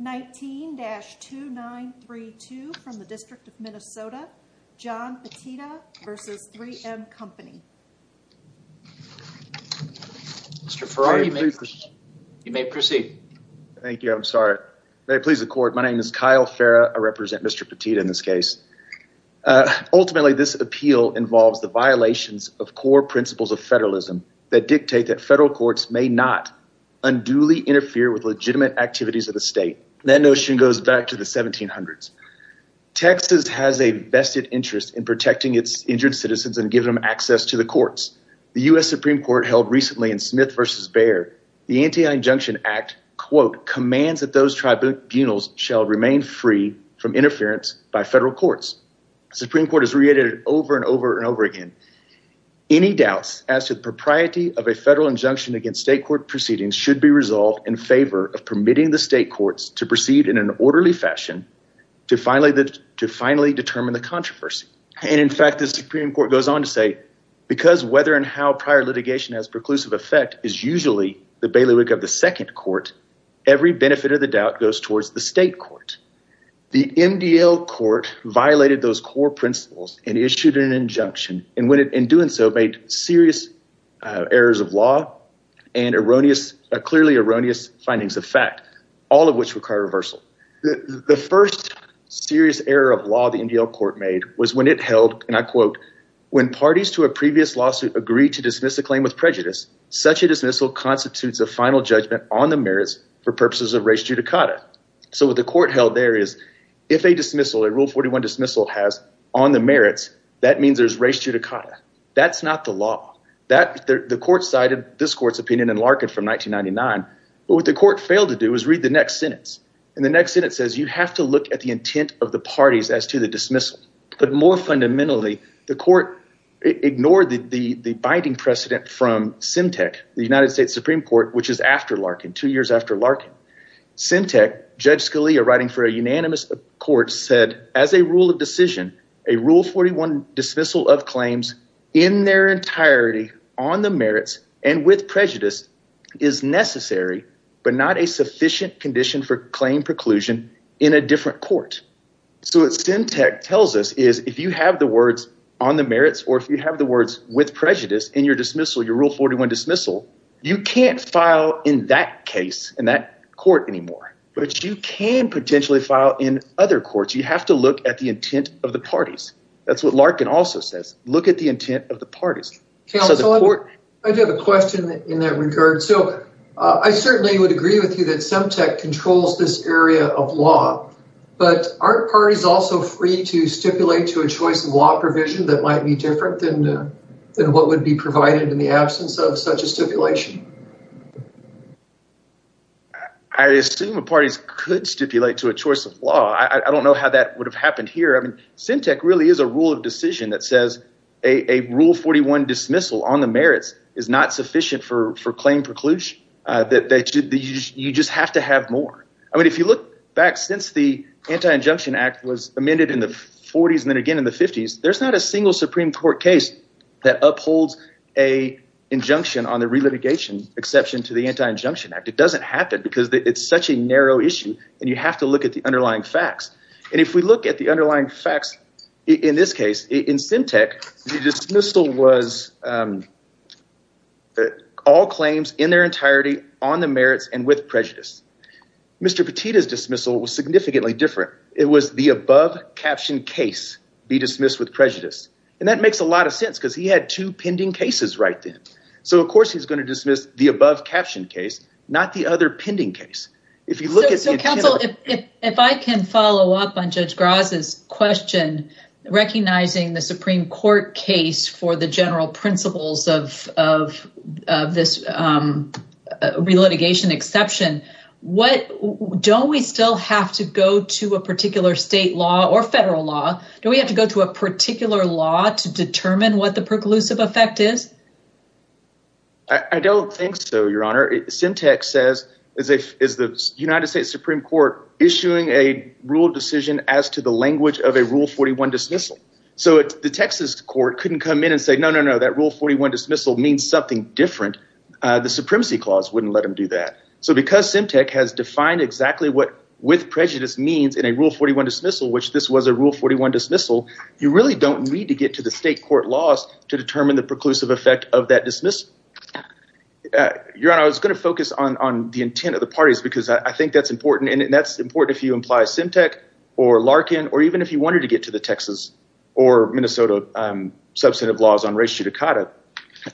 19-2932 from the District of Minnesota, John Petitta v. 3M Company. Mr. Ferrari, you may proceed. Thank you, I'm sorry. May it please the court, my name is Kyle Ferra, I represent Mr. Petitta in this case. Ultimately, this appeal involves the violations of core principles of federalism that dictate that federal courts may not unduly interfere with legitimate activities of the state. That notion goes back to the 1700s. Texas has a vested interest in protecting its injured citizens and giving them access to the courts. The U.S. Supreme Court held recently in Smith v. Bayer, the Anti-Injunction Act, quote, commands that those tribunals shall remain free from interference by federal courts. The Supreme Court has reiterated it over and over and over again. Any doubts as to the propriety of a federal injunction against state court proceedings should be resolved in favor of permitting the state courts to proceed in an orderly fashion to finally determine the controversy. And in fact, the Supreme Court goes on to say, because whether and how prior litigation has preclusive effect is usually the bailiwick of the second court, every benefit of the doubt goes towards the state court. The MDL court violated those core principles and issued an injunction and in doing so made serious errors of law and clearly erroneous findings of fact, all of which require reversal. The first serious error of law the MDL court made was when it held, and I quote, when parties to a previous lawsuit agree to dismiss a claim with prejudice, such a dismissal constitutes a final judgment on the merits for purposes of res judicata. So what the court held there is if a dismissal, a rule 41 dismissal has on the merits, that means there's res judicata. That's not the law. The court cited this court's opinion in Larkin from 1999. But what the court failed to do is read the next sentence. And the next sentence says you have to look at the intent of the parties as to the dismissal. But more fundamentally, the court ignored the binding precedent from CEMTEC, the United States Supreme Court, which is after Larkin, two years after Larkin. CEMTEC, Judge Scalia writing for a unanimous court, said as a rule of decision, a rule 41 dismissal of claims in their entirety on the merits and with prejudice is necessary, but not a sufficient condition for claim preclusion in a different court. So what CEMTEC tells us is if you have the words on the merits or if you have the words with prejudice in your dismissal, your rule 41 dismissal, you can't file in that case in that court anymore. But you can potentially file in other courts. You have to look at the intent of the parties. That's what Larkin also says. Look at the intent of the parties. I do have a question in that regard. So I certainly would agree with you that CEMTEC controls this area of law. But aren't parties also free to stipulate to a choice of law provision that might be different than what would be provided in the absence of such a stipulation? I assume the parties could stipulate to a choice of law. I don't know how that would have happened here. I mean CEMTEC really is a rule of decision that says a rule 41 dismissal on the merits is not sufficient for claim preclusion. You just have to have more. I mean if you look back since the Anti-Injunction Act was amended in the 40s and then again in the 50s, there's not a single Supreme Court case that upholds an injunction on the relitigation exception to the Anti-Injunction Act. It doesn't happen because it's such a narrow issue, and you have to look at the underlying facts. And if we look at the underlying facts in this case, in CEMTEC, the dismissal was all claims in their entirety on the merits and with prejudice. Mr. Petita's dismissal was significantly different. It was the above-captioned case be dismissed with prejudice. And that makes a lot of sense because he had two pending cases right then. So of course he's going to dismiss the above-captioned case, not the other pending case. So counsel, if I can follow up on Judge Graz's question, recognizing the Supreme Court case for the general principles of this relitigation exception, don't we still have to go to a particular state law or federal law? Do we have to go to a particular law to determine what the preclusive effect is? I don't think so, Your Honor. CEMTEC says, is the United States Supreme Court issuing a rule decision as to the language of a Rule 41 dismissal? So the Texas court couldn't come in and say, no, no, no, that Rule 41 dismissal means something different. The Supremacy Clause wouldn't let them do that. So because CEMTEC has defined exactly what with prejudice means in a Rule 41 dismissal, which this was a Rule 41 dismissal, you really don't need to get to the state court laws to determine the preclusive effect of that dismissal. Your Honor, I was going to focus on the intent of the parties because I think that's important, and that's important if you imply CEMTEC or Larkin or even if you wanted to get to the Texas or Minnesota substantive laws on res judicata.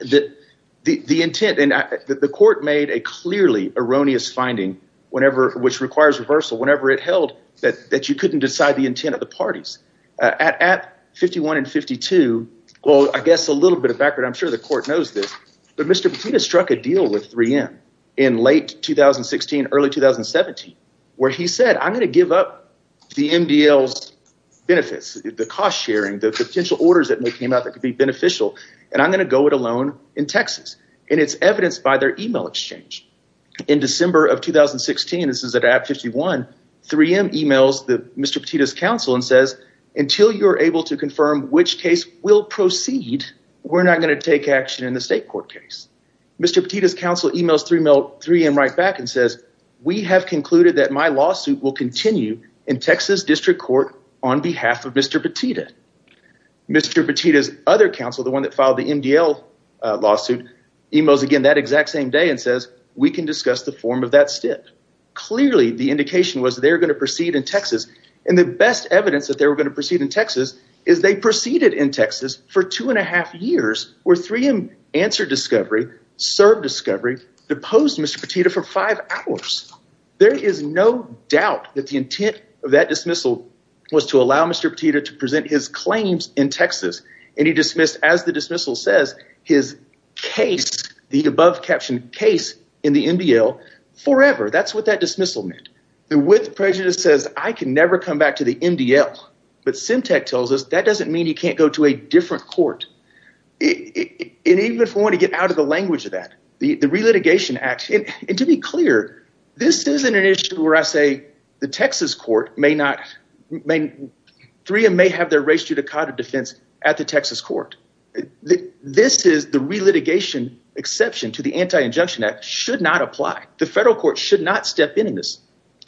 The intent – and the court made a clearly erroneous finding whenever – which requires reversal whenever it held that you couldn't decide the intent of the parties. At 51 and 52 – well, I guess a little bit of background. I'm sure the court knows this. But Mr. Petito struck a deal with 3M in late 2016, early 2017 where he said, I'm going to give up the MDL's benefits, the cost sharing, the potential orders that came out that could be beneficial, and I'm going to go it alone in Texas. And it's evidenced by their email exchange. In December of 2016, this is at 51, 3M emails Mr. Petito's counsel and says, until you're able to confirm which case will proceed, we're not going to take action in the state court case. Mr. Petito's counsel emails 3M right back and says, we have concluded that my lawsuit will continue in Texas District Court on behalf of Mr. Petito. Mr. Petito's other counsel, the one that filed the MDL lawsuit, emails again that exact same day and says, we can discuss the form of that stint. Clearly, the indication was they were going to proceed in Texas, and the best evidence that they were going to proceed in Texas is they proceeded in Texas for two and a half years where 3M answered discovery, served discovery, deposed Mr. Petito for five hours. There is no doubt that the intent of that dismissal was to allow Mr. Petito to present his claims in Texas, and he dismissed, as the dismissal says, his case, the above-captioned case in the MDL, forever. That's what that dismissal meant. The with prejudice says I can never come back to the MDL, but SEMTEC tells us that doesn't mean you can't go to a different court. And even if we want to get out of the language of that, the Relitigation Act – and to be clear, this isn't an issue where I say the Texas court may not – 3M may have their res judicata defense at the Texas court. This is the relitigation exception to the Anti-Injunction Act should not apply. The federal court should not step in on this.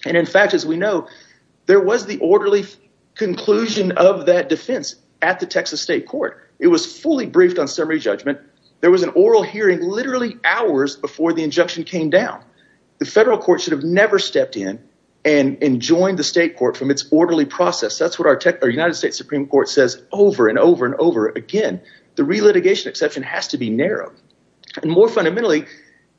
And in fact, as we know, there was the orderly conclusion of that defense at the Texas state court. It was fully briefed on summary judgment. There was an oral hearing literally hours before the injunction came down. The federal court should have never stepped in and joined the state court from its orderly process. That's what our United States Supreme Court says over and over and over again. The relitigation exception has to be narrowed. And more fundamentally,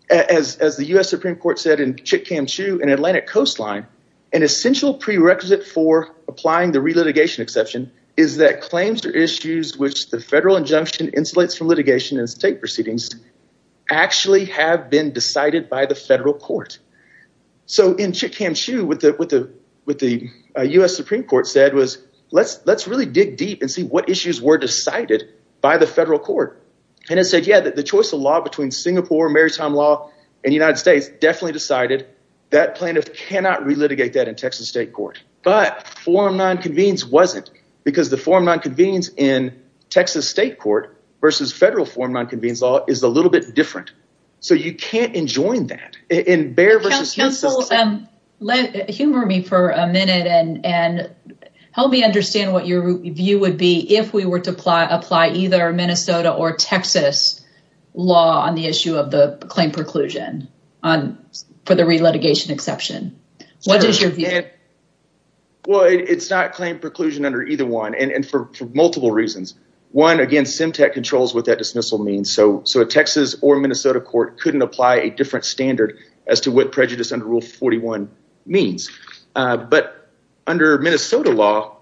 as the U.S. Supreme Court said in Chick-Cam-Chu in Atlantic Coastline, an essential prerequisite for applying the relitigation exception is that claims or issues which the federal injunction insulates from litigation and state proceedings actually have been decided by the federal court. So in Chick-Cam-Chu, what the U.S. Supreme Court said was let's really dig deep and see what issues were decided by the federal court. And it said, yeah, the choice of law between Singapore maritime law and the United States definitely decided that plaintiff cannot relitigate that in Texas state court. But forum nonconvenience wasn't because the forum nonconvenience in Texas state court versus federal forum nonconvenience law is a little bit different. So you can't enjoin that. Humor me for a minute and help me understand what your view would be if we were to apply either Minnesota or Texas law on the issue of the claim preclusion for the relitigation exception. What is your view? Well, it's not claim preclusion under either one and for multiple reasons. One, again, SEMTAC controls what that dismissal means. So a Texas or Minnesota court couldn't apply a different standard as to what prejudice under Rule 41 means. But under Minnesota law,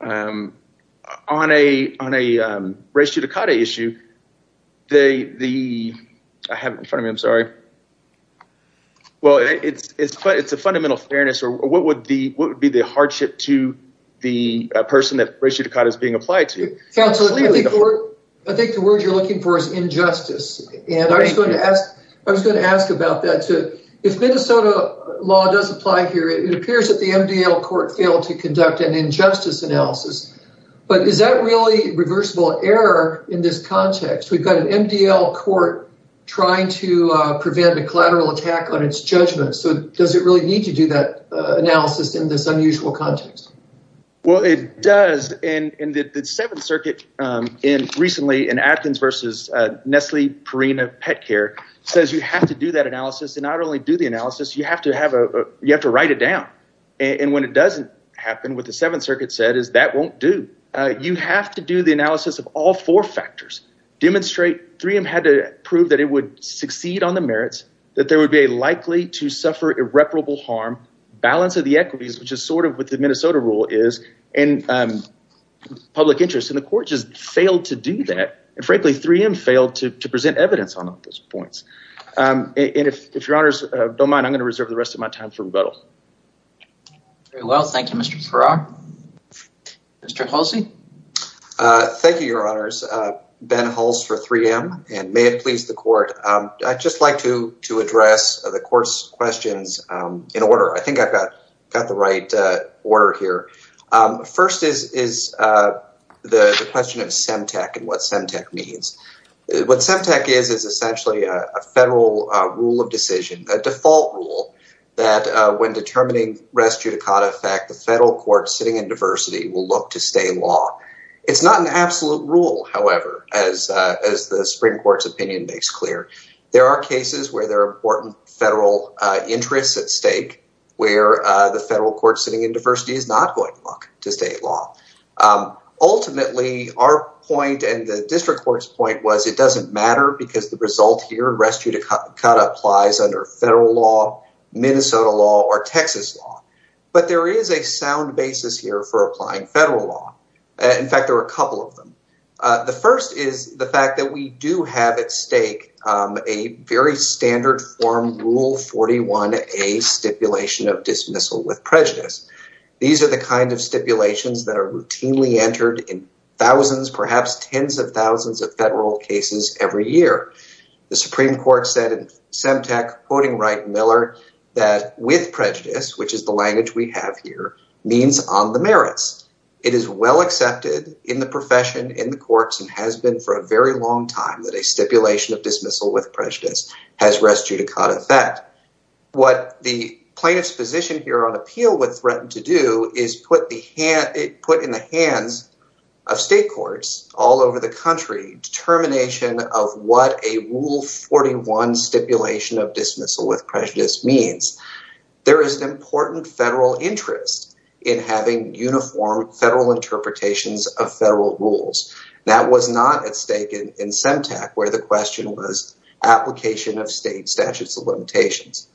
on a ratio to cut issue, the I have in front of me. I'm sorry. Well, it's it's but it's a fundamental fairness. Or what would the what would be the hardship to the person that ratio to cut is being applied to? I think the word you're looking for is injustice. And I was going to ask I was going to ask about that, too. If Minnesota law does apply here, it appears that the MDL court failed to conduct an injustice analysis. But is that really reversible error in this context? We've got an MDL court trying to prevent a collateral attack on its judgment. So does it really need to do that analysis in this unusual context? Well, it does. And the Seventh Circuit in recently in Atkins versus Nestle Purina Pet Care says you have to do that analysis. And not only do the analysis, you have to have a you have to write it down. And when it doesn't happen with the Seventh Circuit said is that won't do. You have to do the analysis of all four factors. Demonstrate three and had to prove that it would succeed on the merits, that there would be a likely to suffer irreparable harm. Balance of the equities, which is sort of what the Minnesota rule is in public interest. And the court just failed to do that. And frankly, 3M failed to present evidence on those points. And if your honors don't mind, I'm going to reserve the rest of my time for rebuttal. Well, thank you, Mr. Farrar. Mr. Halsey. Thank you, your honors. Ben Hulse for 3M. And may it please the court. I'd just like to to address the court's questions in order. I think I've got got the right order here. First is is the question of Semtec and what Semtec means. What Semtec is, is essentially a federal rule of decision, a default rule that when determining res judicata effect, the federal court sitting in diversity will look to stay law. It's not an absolute rule, however, as as the Supreme Court's opinion makes clear. There are cases where there are important federal interests at stake, where the federal court sitting in diversity is not going to look to state law. Ultimately, our point and the district court's point was it doesn't matter because the result here, res judicata applies under federal law, Minnesota law or Texas law. But there is a sound basis here for applying federal law. In fact, there are a couple of them. The first is the fact that we do have at stake a very standard form rule. Forty one, a stipulation of dismissal with prejudice. These are the kinds of stipulations that are routinely entered in thousands, perhaps tens of thousands of federal cases every year. The Supreme Court said Semtec, quoting Wright Miller, that with prejudice, which is the language we have here, means on the merits. It is well accepted in the profession, in the courts and has been for a very long time that a stipulation of dismissal with prejudice has res judicata effect. What the plaintiff's position here on appeal would threaten to do is put the hand put in the hands of state courts all over the country. determination of what a rule 41 stipulation of dismissal with prejudice means. There is an important federal interest in having uniform federal interpretations of federal rules. That was not at stake in Semtec, where the question was application of state statutes of limitations.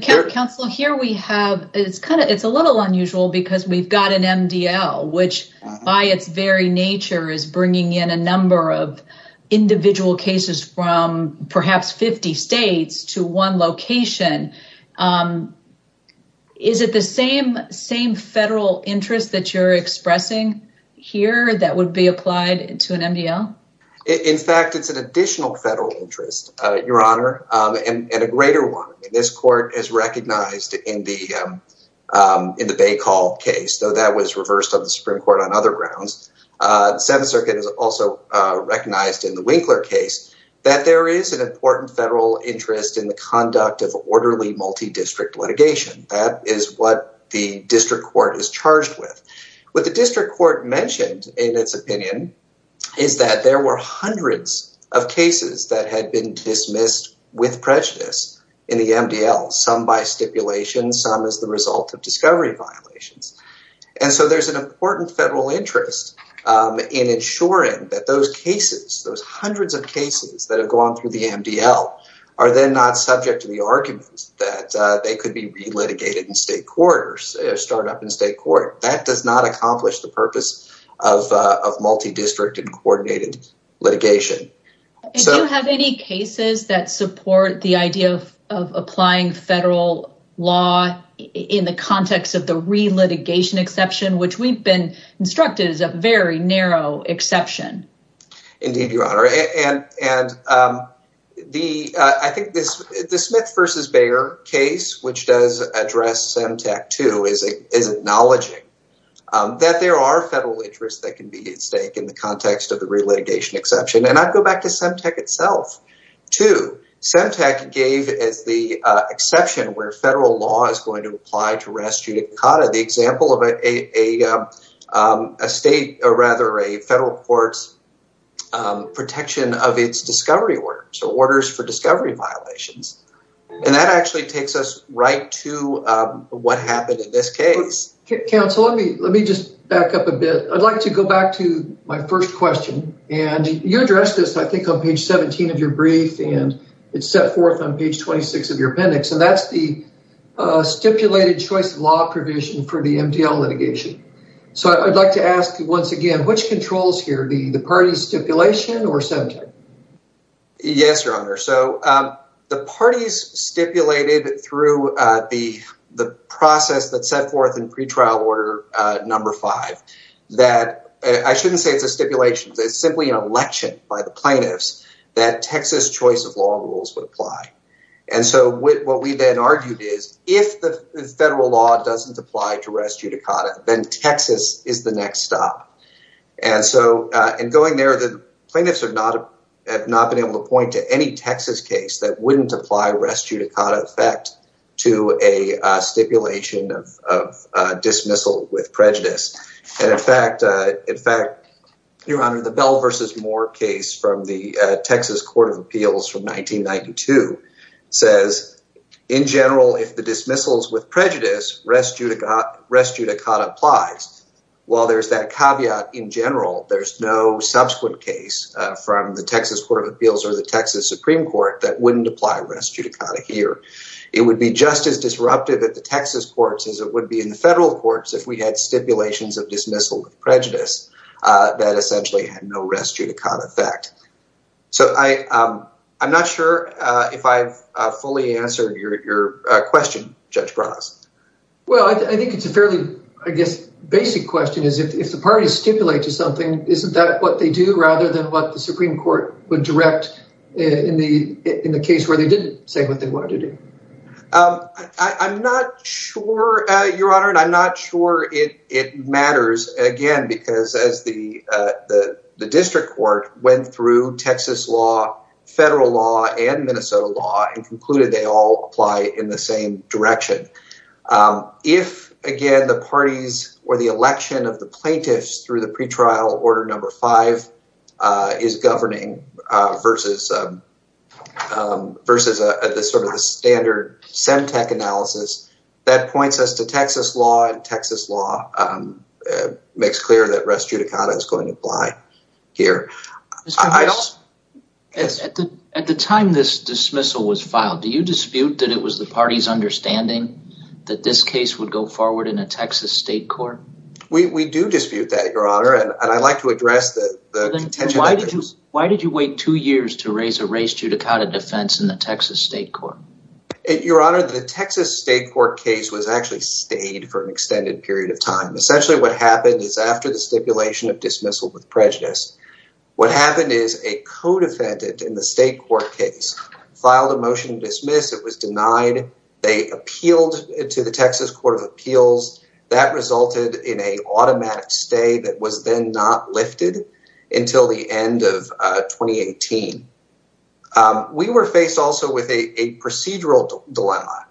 Counsel, here we have it's kind of it's a little unusual because we've got an MDL, which by its very nature is bringing in a number of individual cases from perhaps 50 states to one location. Is it the same same federal interest that you're expressing here that would be applied to an MDL? In fact, it's an additional federal interest, Your Honor, and a greater one. This court is recognized in the in the Bay call case, though that was reversed on the Supreme Court on other grounds. The Seventh Circuit is also recognized in the Winkler case that there is an important federal interest in the conduct of orderly multi district litigation. That is what the district court is charged with. What the district court mentioned in its opinion is that there were hundreds of cases that had been dismissed with prejudice in the MDL, some by stipulation, some as the result of discovery violations. And so there's an important federal interest in ensuring that those cases, those hundreds of cases that have gone through the MDL are then not subject to the arguments that they could be relitigated in state court or start up in state court. That does not accomplish the purpose of multi district and coordinated litigation. Do you have any cases that support the idea of applying federal law in the context of the relitigation exception, which we've been instructed is a very narrow exception? Indeed, Your Honor. And and the I think this the Smith versus Bayer case, which does address Semtec, too, is is acknowledging that there are federal interests that can be at stake in the context of the relitigation exception. And I'd go back to Semtec itself to Semtec gave as the exception where federal law is going to apply to rest. You caught the example of a state or rather a federal court's protection of its discovery orders or orders for discovery violations. And that actually takes us right to what happened in this case. Counsel, let me let me just back up a bit. I'd like to go back to my first question. And you addressed this, I think, on page 17 of your brief and it's set forth on page 26 of your appendix. And that's the stipulated choice law provision for the MDL litigation. So I'd like to ask you once again, which controls here, the party's stipulation or Semtec? Yes, Your Honor. So the parties stipulated through the the process that set forth in pretrial order number five that I shouldn't say it's a stipulation. It's simply an election by the plaintiffs that Texas choice of law rules would apply. And so what we then argued is if the federal law doesn't apply to res judicata, then Texas is the next stop. And so in going there, the plaintiffs are not have not been able to point to any Texas case that wouldn't apply res judicata effect to a stipulation of dismissal with prejudice. And in fact, in fact, Your Honor, the Bell versus Moore case from the Texas Court of Appeals from 1992 says, in general, if the dismissals with prejudice res judicata applies. While there's that caveat in general, there's no subsequent case from the Texas Court of Appeals or the Texas Supreme Court that wouldn't apply res judicata here. It would be just as disruptive at the Texas courts as it would be in the federal courts if we had stipulations of dismissal of prejudice that essentially had no res judicata effect. So I I'm not sure if I've fully answered your question, Judge Bras. Well, I think it's a fairly, I guess, basic question is if the parties stipulate to something, isn't that what they do rather than what the Supreme Court would direct in the in the case where they didn't say what they wanted to do? I'm not sure, Your Honor, and I'm not sure it matters again, because as the the district court went through Texas law, federal law and Minnesota law and concluded they all apply in the same direction. If, again, the parties or the election of the plaintiffs through the pretrial order number five is governing versus versus this sort of standard semtech analysis that points us to Texas law and Texas law makes clear that res judicata is going to apply here. At the time this dismissal was filed, do you dispute that it was the party's understanding that this case would go forward in a Texas state court? We do dispute that, Your Honor. And I'd like to address that. Why did you wait two years to raise a res judicata defense in the Texas state court? Your Honor, the Texas state court case was actually stayed for an extended period of time. Essentially, what happened is after the stipulation of dismissal with prejudice, what happened is a codefendant in the state court case filed a motion to dismiss. It was denied. They appealed to the Texas Court of Appeals. That resulted in a automatic stay that was then not lifted until the end of twenty eighteen. We were faced also with a procedural dilemma.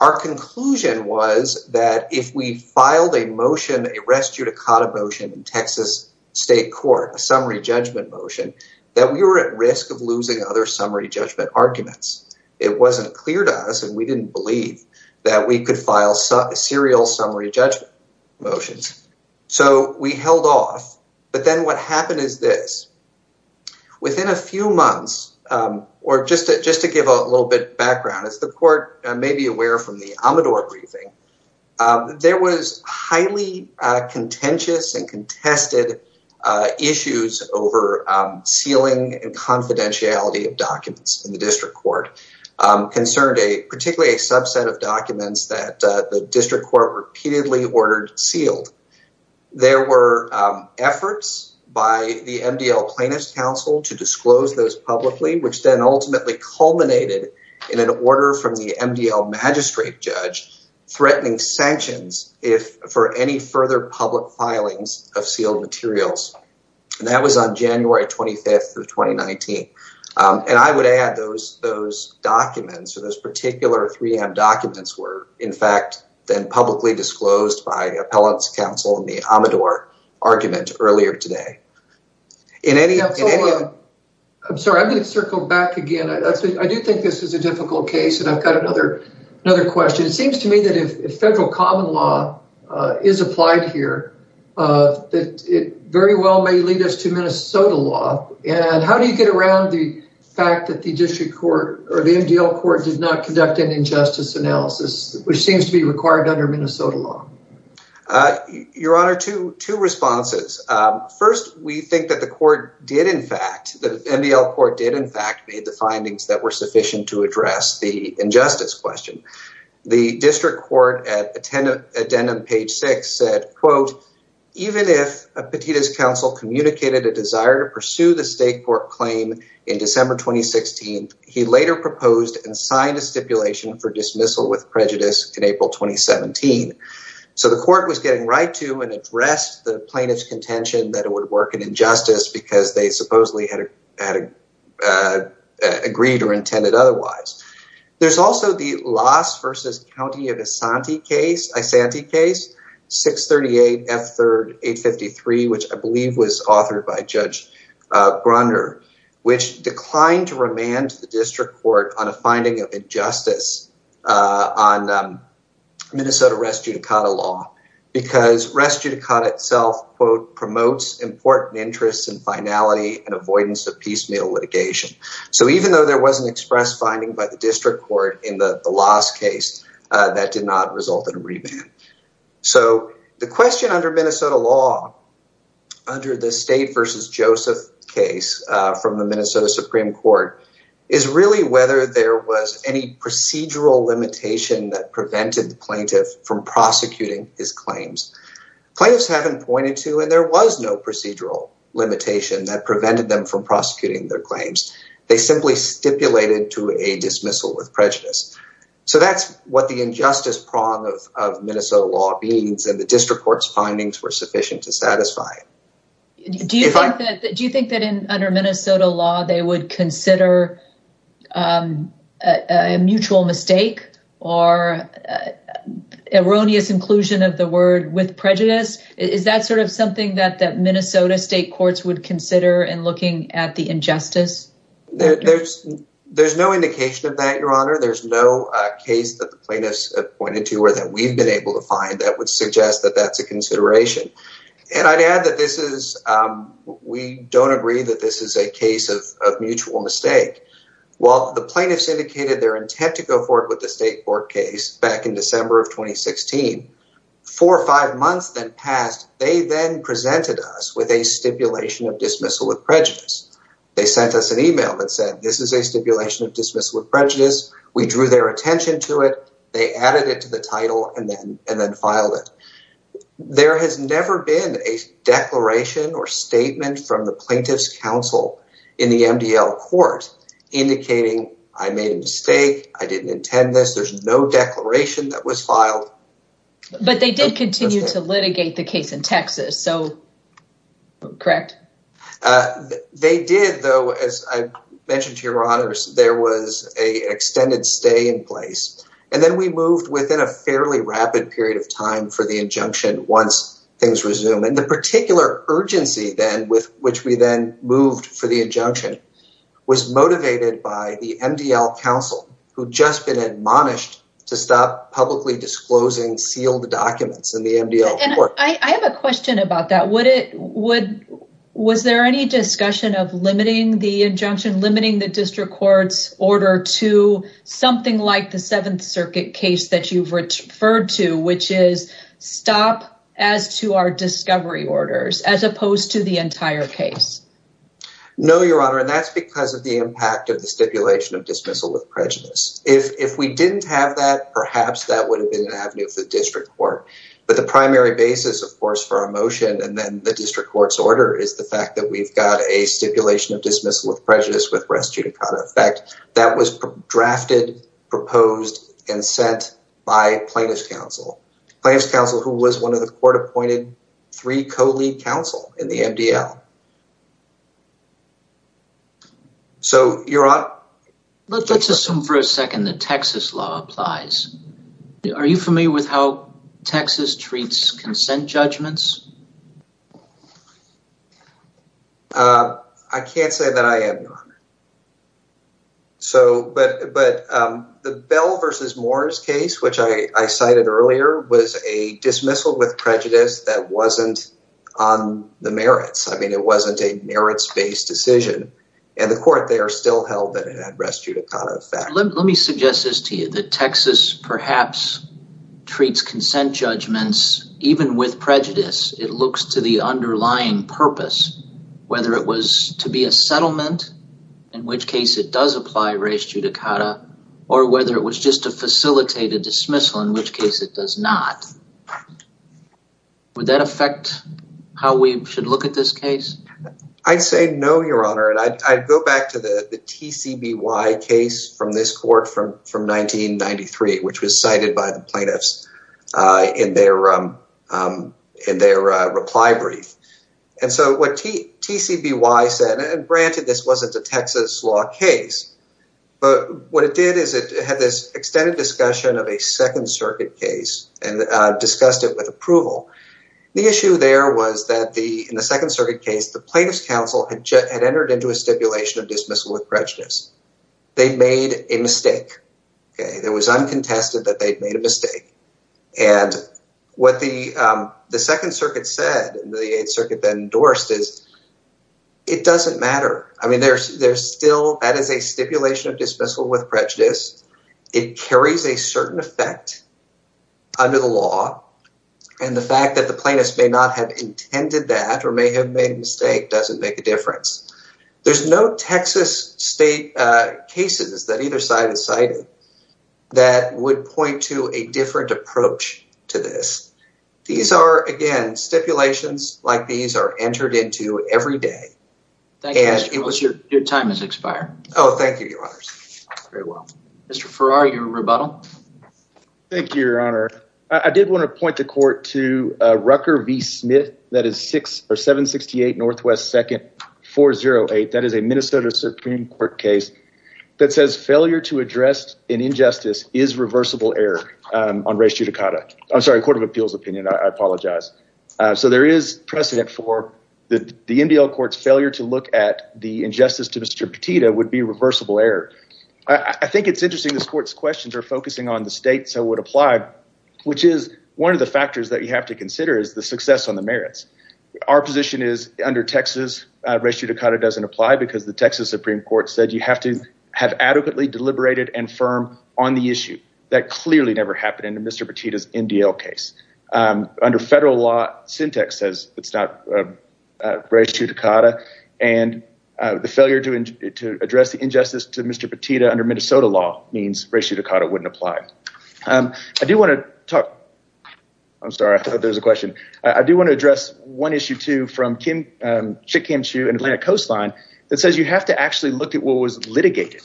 Our conclusion was that if we filed a motion, a res judicata motion in Texas state court, a summary judgment motion, that we were at risk of losing other summary judgment arguments. It wasn't clear to us and we didn't believe that we could file serial summary judgment motions. So we held off. But then what happened is this. Or just to just to give a little bit background, as the court may be aware from the Amador briefing, there was highly contentious and contested issues over sealing and confidentiality of documents in the district court. Concerned a particularly a subset of documents that the district court repeatedly ordered sealed. There were efforts by the MDL plaintiff's counsel to disclose those publicly, which then ultimately culminated in an order from the MDL magistrate judge threatening sanctions if for any further public filings of sealed materials. And that was on January twenty fifth of twenty nineteen. And I would add those those documents or those particular three documents were in fact then publicly disclosed by the appellant's counsel in the Amador argument earlier today. I'm sorry, I'm going to circle back again. I do think this is a difficult case. And I've got another another question. It seems to me that if federal common law is applied here, that it very well may lead us to Minnesota law. And how do you get around the fact that the district court or the MDL court did not conduct an injustice analysis, which seems to be required under Minnesota law? Your honor to two responses. First, we think that the court did. In fact, the MDL court did, in fact, made the findings that were sufficient to address the injustice question. The district court at the 10th addendum, page six, said, quote, even if a petitioner's counsel communicated a desire to pursue the state court claim in December twenty sixteen, he later proposed and signed a stipulation for dismissal with prejudice in April twenty seventeen. So the court was getting right to and addressed the plaintiff's contention that it would work in injustice because they supposedly had agreed or intended otherwise. There's also the loss versus county of Asante case, 638 F3rd 853, which I believe was authored by Judge Grunder, which declined to remand the district court on a finding of injustice on Minnesota res judicata law because res judicata itself promotes important interests and finality and avoidance of piecemeal litigation. So even though there was an express finding by the district court in the last case that did not result in a remand. So the question under Minnesota law under the state versus Joseph case from the Minnesota Supreme Court is really whether there was any procedural limitation that prevented the plaintiff from prosecuting his claims. Plaintiffs haven't pointed to and there was no procedural limitation that prevented them from prosecuting their claims. They simply stipulated to a dismissal with prejudice. So that's what the injustice prong of Minnesota law means. And the district court's findings were sufficient to satisfy. Do you think that under Minnesota law they would consider a mutual mistake or erroneous inclusion of the word with prejudice? Is that sort of something that Minnesota state courts would consider in looking at the injustice? There's no indication of that, Your Honor. There's no case that the plaintiffs pointed to or that we've been able to find that would suggest that that's a consideration. And I'd add that this is we don't agree that this is a case of mutual mistake. While the plaintiffs indicated their intent to go forward with the state court case back in December of 2016, four or five months then passed. They then presented us with a stipulation of dismissal of prejudice. They sent us an email that said this is a stipulation of dismissal of prejudice. We drew their attention to it. They added it to the title and then and then filed it. There has never been a declaration or statement from the plaintiff's counsel in the MDL court indicating I made a mistake. I didn't intend this. There's no declaration that was filed. But they did continue to litigate the case in Texas. So, correct. They did, though, as I mentioned to Your Honors, there was a extended stay in place. And then we moved within a fairly rapid period of time for the injunction once things resume. And the particular urgency then with which we then moved for the injunction was motivated by the MDL counsel who'd just been admonished to stop publicly disclosing sealed documents in the MDL court. I have a question about that. Was there any discussion of limiting the injunction, limiting the district court's order to something like the Seventh Circuit case that you've referred to, which is stop as to our discovery orders as opposed to the entire case? No, Your Honor. And that's because of the impact of the stipulation of dismissal of prejudice. If we didn't have that, perhaps that would have been an avenue for the district court. But the primary basis, of course, for our motion and then the district court's order is the fact that we've got a stipulation of dismissal of prejudice with res judicata effect that was drafted, proposed, and sent by plaintiff's counsel. Plaintiff's counsel who was one of the court-appointed three co-lead counsel in the MDL. Let's assume for a second that Texas law applies. Are you familiar with how Texas treats consent judgments? I can't say that I am, Your Honor. But the Bell v. Moores case, which I cited earlier, was a dismissal with prejudice that wasn't on the merits. I mean, it wasn't a merits-based decision. And the court there still held that it had res judicata effect. Let me suggest this to you, that Texas perhaps treats consent judgments even with prejudice. It looks to the underlying purpose, whether it was to be a settlement, in which case it does apply res judicata, or whether it was just to facilitate a dismissal, in which case it does not. Would that affect how we should look at this case? I'd say no, Your Honor. And I'd go back to the TCBY case from this court from 1993, which was cited by the plaintiffs in their reply brief. And so what TCBY said, and granted this wasn't a Texas law case, but what it did is it had this extended discussion of a Second Circuit case and discussed it with approval. The issue there was that in the Second Circuit case, the plaintiffs' counsel had entered into a stipulation of dismissal with prejudice. They made a mistake. It was uncontested that they'd made a mistake. And what the Second Circuit said, the Eighth Circuit then endorsed, is it doesn't matter. I mean, that is a stipulation of dismissal with prejudice. It carries a certain effect under the law. And the fact that the plaintiffs may not have intended that or may have made a mistake doesn't make a difference. There's no Texas state cases that either side has cited that would point to a different approach to this. These are, again, stipulations like these are entered into every day. Thank you, Your Honor. Your time has expired. Oh, thank you, Your Honors. Very well. Mr. Farrar, your rebuttal? Thank you, Your Honor. I did want to point the court to Rucker v. Smith. That is 768 Northwest 2nd 408. That is a Minnesota Supreme Court case that says failure to address an injustice is reversible error on res judicata. I'm sorry, Court of Appeals opinion. I apologize. So there is precedent for the MDL court's failure to look at the injustice to Mr. Petito would be reversible error. I think it's interesting this court's questions are focusing on the state. So it would apply, which is one of the factors that you have to consider is the success on the merits. Our position is under Texas, res judicata doesn't apply because the Texas Supreme Court said you have to have adequately deliberated and firm on the issue. That clearly never happened in Mr. Petito's MDL case. Under federal law, syntax says it's not res judicata. And the failure to address the injustice to Mr. Petito under Minnesota law means res judicata wouldn't apply. I do want to talk. I'm sorry. There's a question. I do want to address one issue, too, from Chick Kim Chu and Atlantic Coastline that says you have to actually look at what was litigated.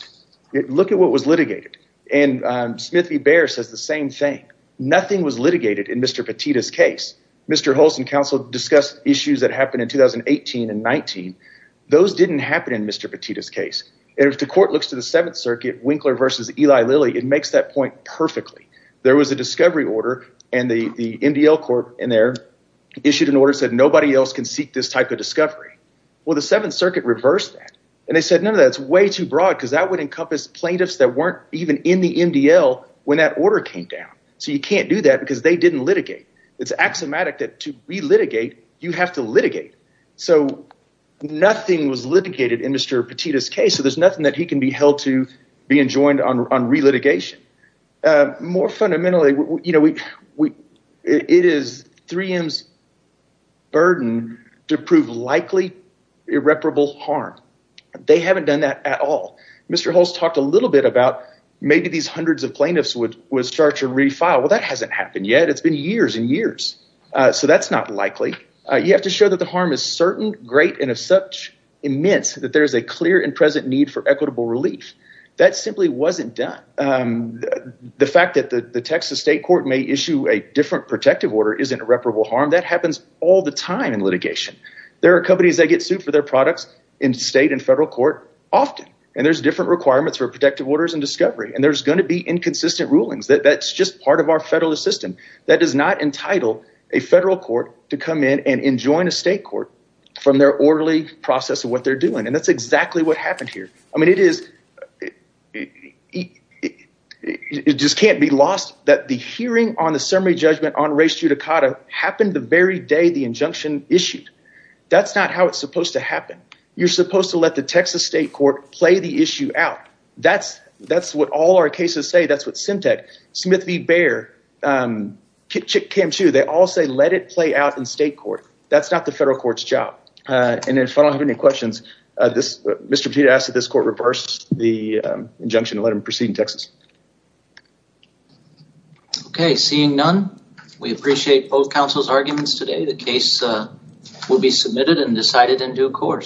Look at what was litigated. And Smith v. Behr says the same thing. Nothing was litigated in Mr. Petito's case. Mr. Holson counsel discussed issues that happened in 2018 and 19. Those didn't happen in Mr. Petito's case. And if the court looks to the Seventh Circuit, Winkler v. Eli Lilly, it makes that point perfectly. There was a discovery order, and the MDL court in there issued an order that said nobody else can seek this type of discovery. Well, the Seventh Circuit reversed that, and they said, no, that's way too broad because that would encompass plaintiffs that weren't even in the MDL when that order came down. So you can't do that because they didn't litigate. It's axiomatic that to relitigate, you have to litigate. So nothing was litigated in Mr. Petito's case, so there's nothing that he can be held to being joined on relitigation. More fundamentally, you know, it is 3M's burden to prove likely irreparable harm. They haven't done that at all. Mr. Hulse talked a little bit about maybe these hundreds of plaintiffs would start to refile. Well, that hasn't happened yet. It's been years and years, so that's not likely. You have to show that the harm is certain, great, and of such immense that there is a clear and present need for equitable relief. That simply wasn't done. The fact that the Texas state court may issue a different protective order isn't irreparable harm. That happens all the time in litigation. There are companies that get sued for their products in state and federal court often. And there's different requirements for protective orders and discovery. And there's going to be inconsistent rulings. That's just part of our federal system. That does not entitle a federal court to come in and enjoin a state court from their orderly process of what they're doing. And that's exactly what happened here. I mean, it is it just can't be lost that the hearing on the summary judgment on race judicata happened the very day the injunction issued. That's not how it's supposed to happen. You're supposed to let the Texas state court play the issue out. That's what all our cases say. That's what CEMTEC, Smith v. Bayer, KM2, they all say let it play out in state court. That's not the federal court's job. And if I don't have any questions, Mr. Petito asks that this court reverse the injunction and let him proceed in Texas. Okay. Seeing none, we appreciate both counsel's arguments today. The case will be submitted and decided in due course.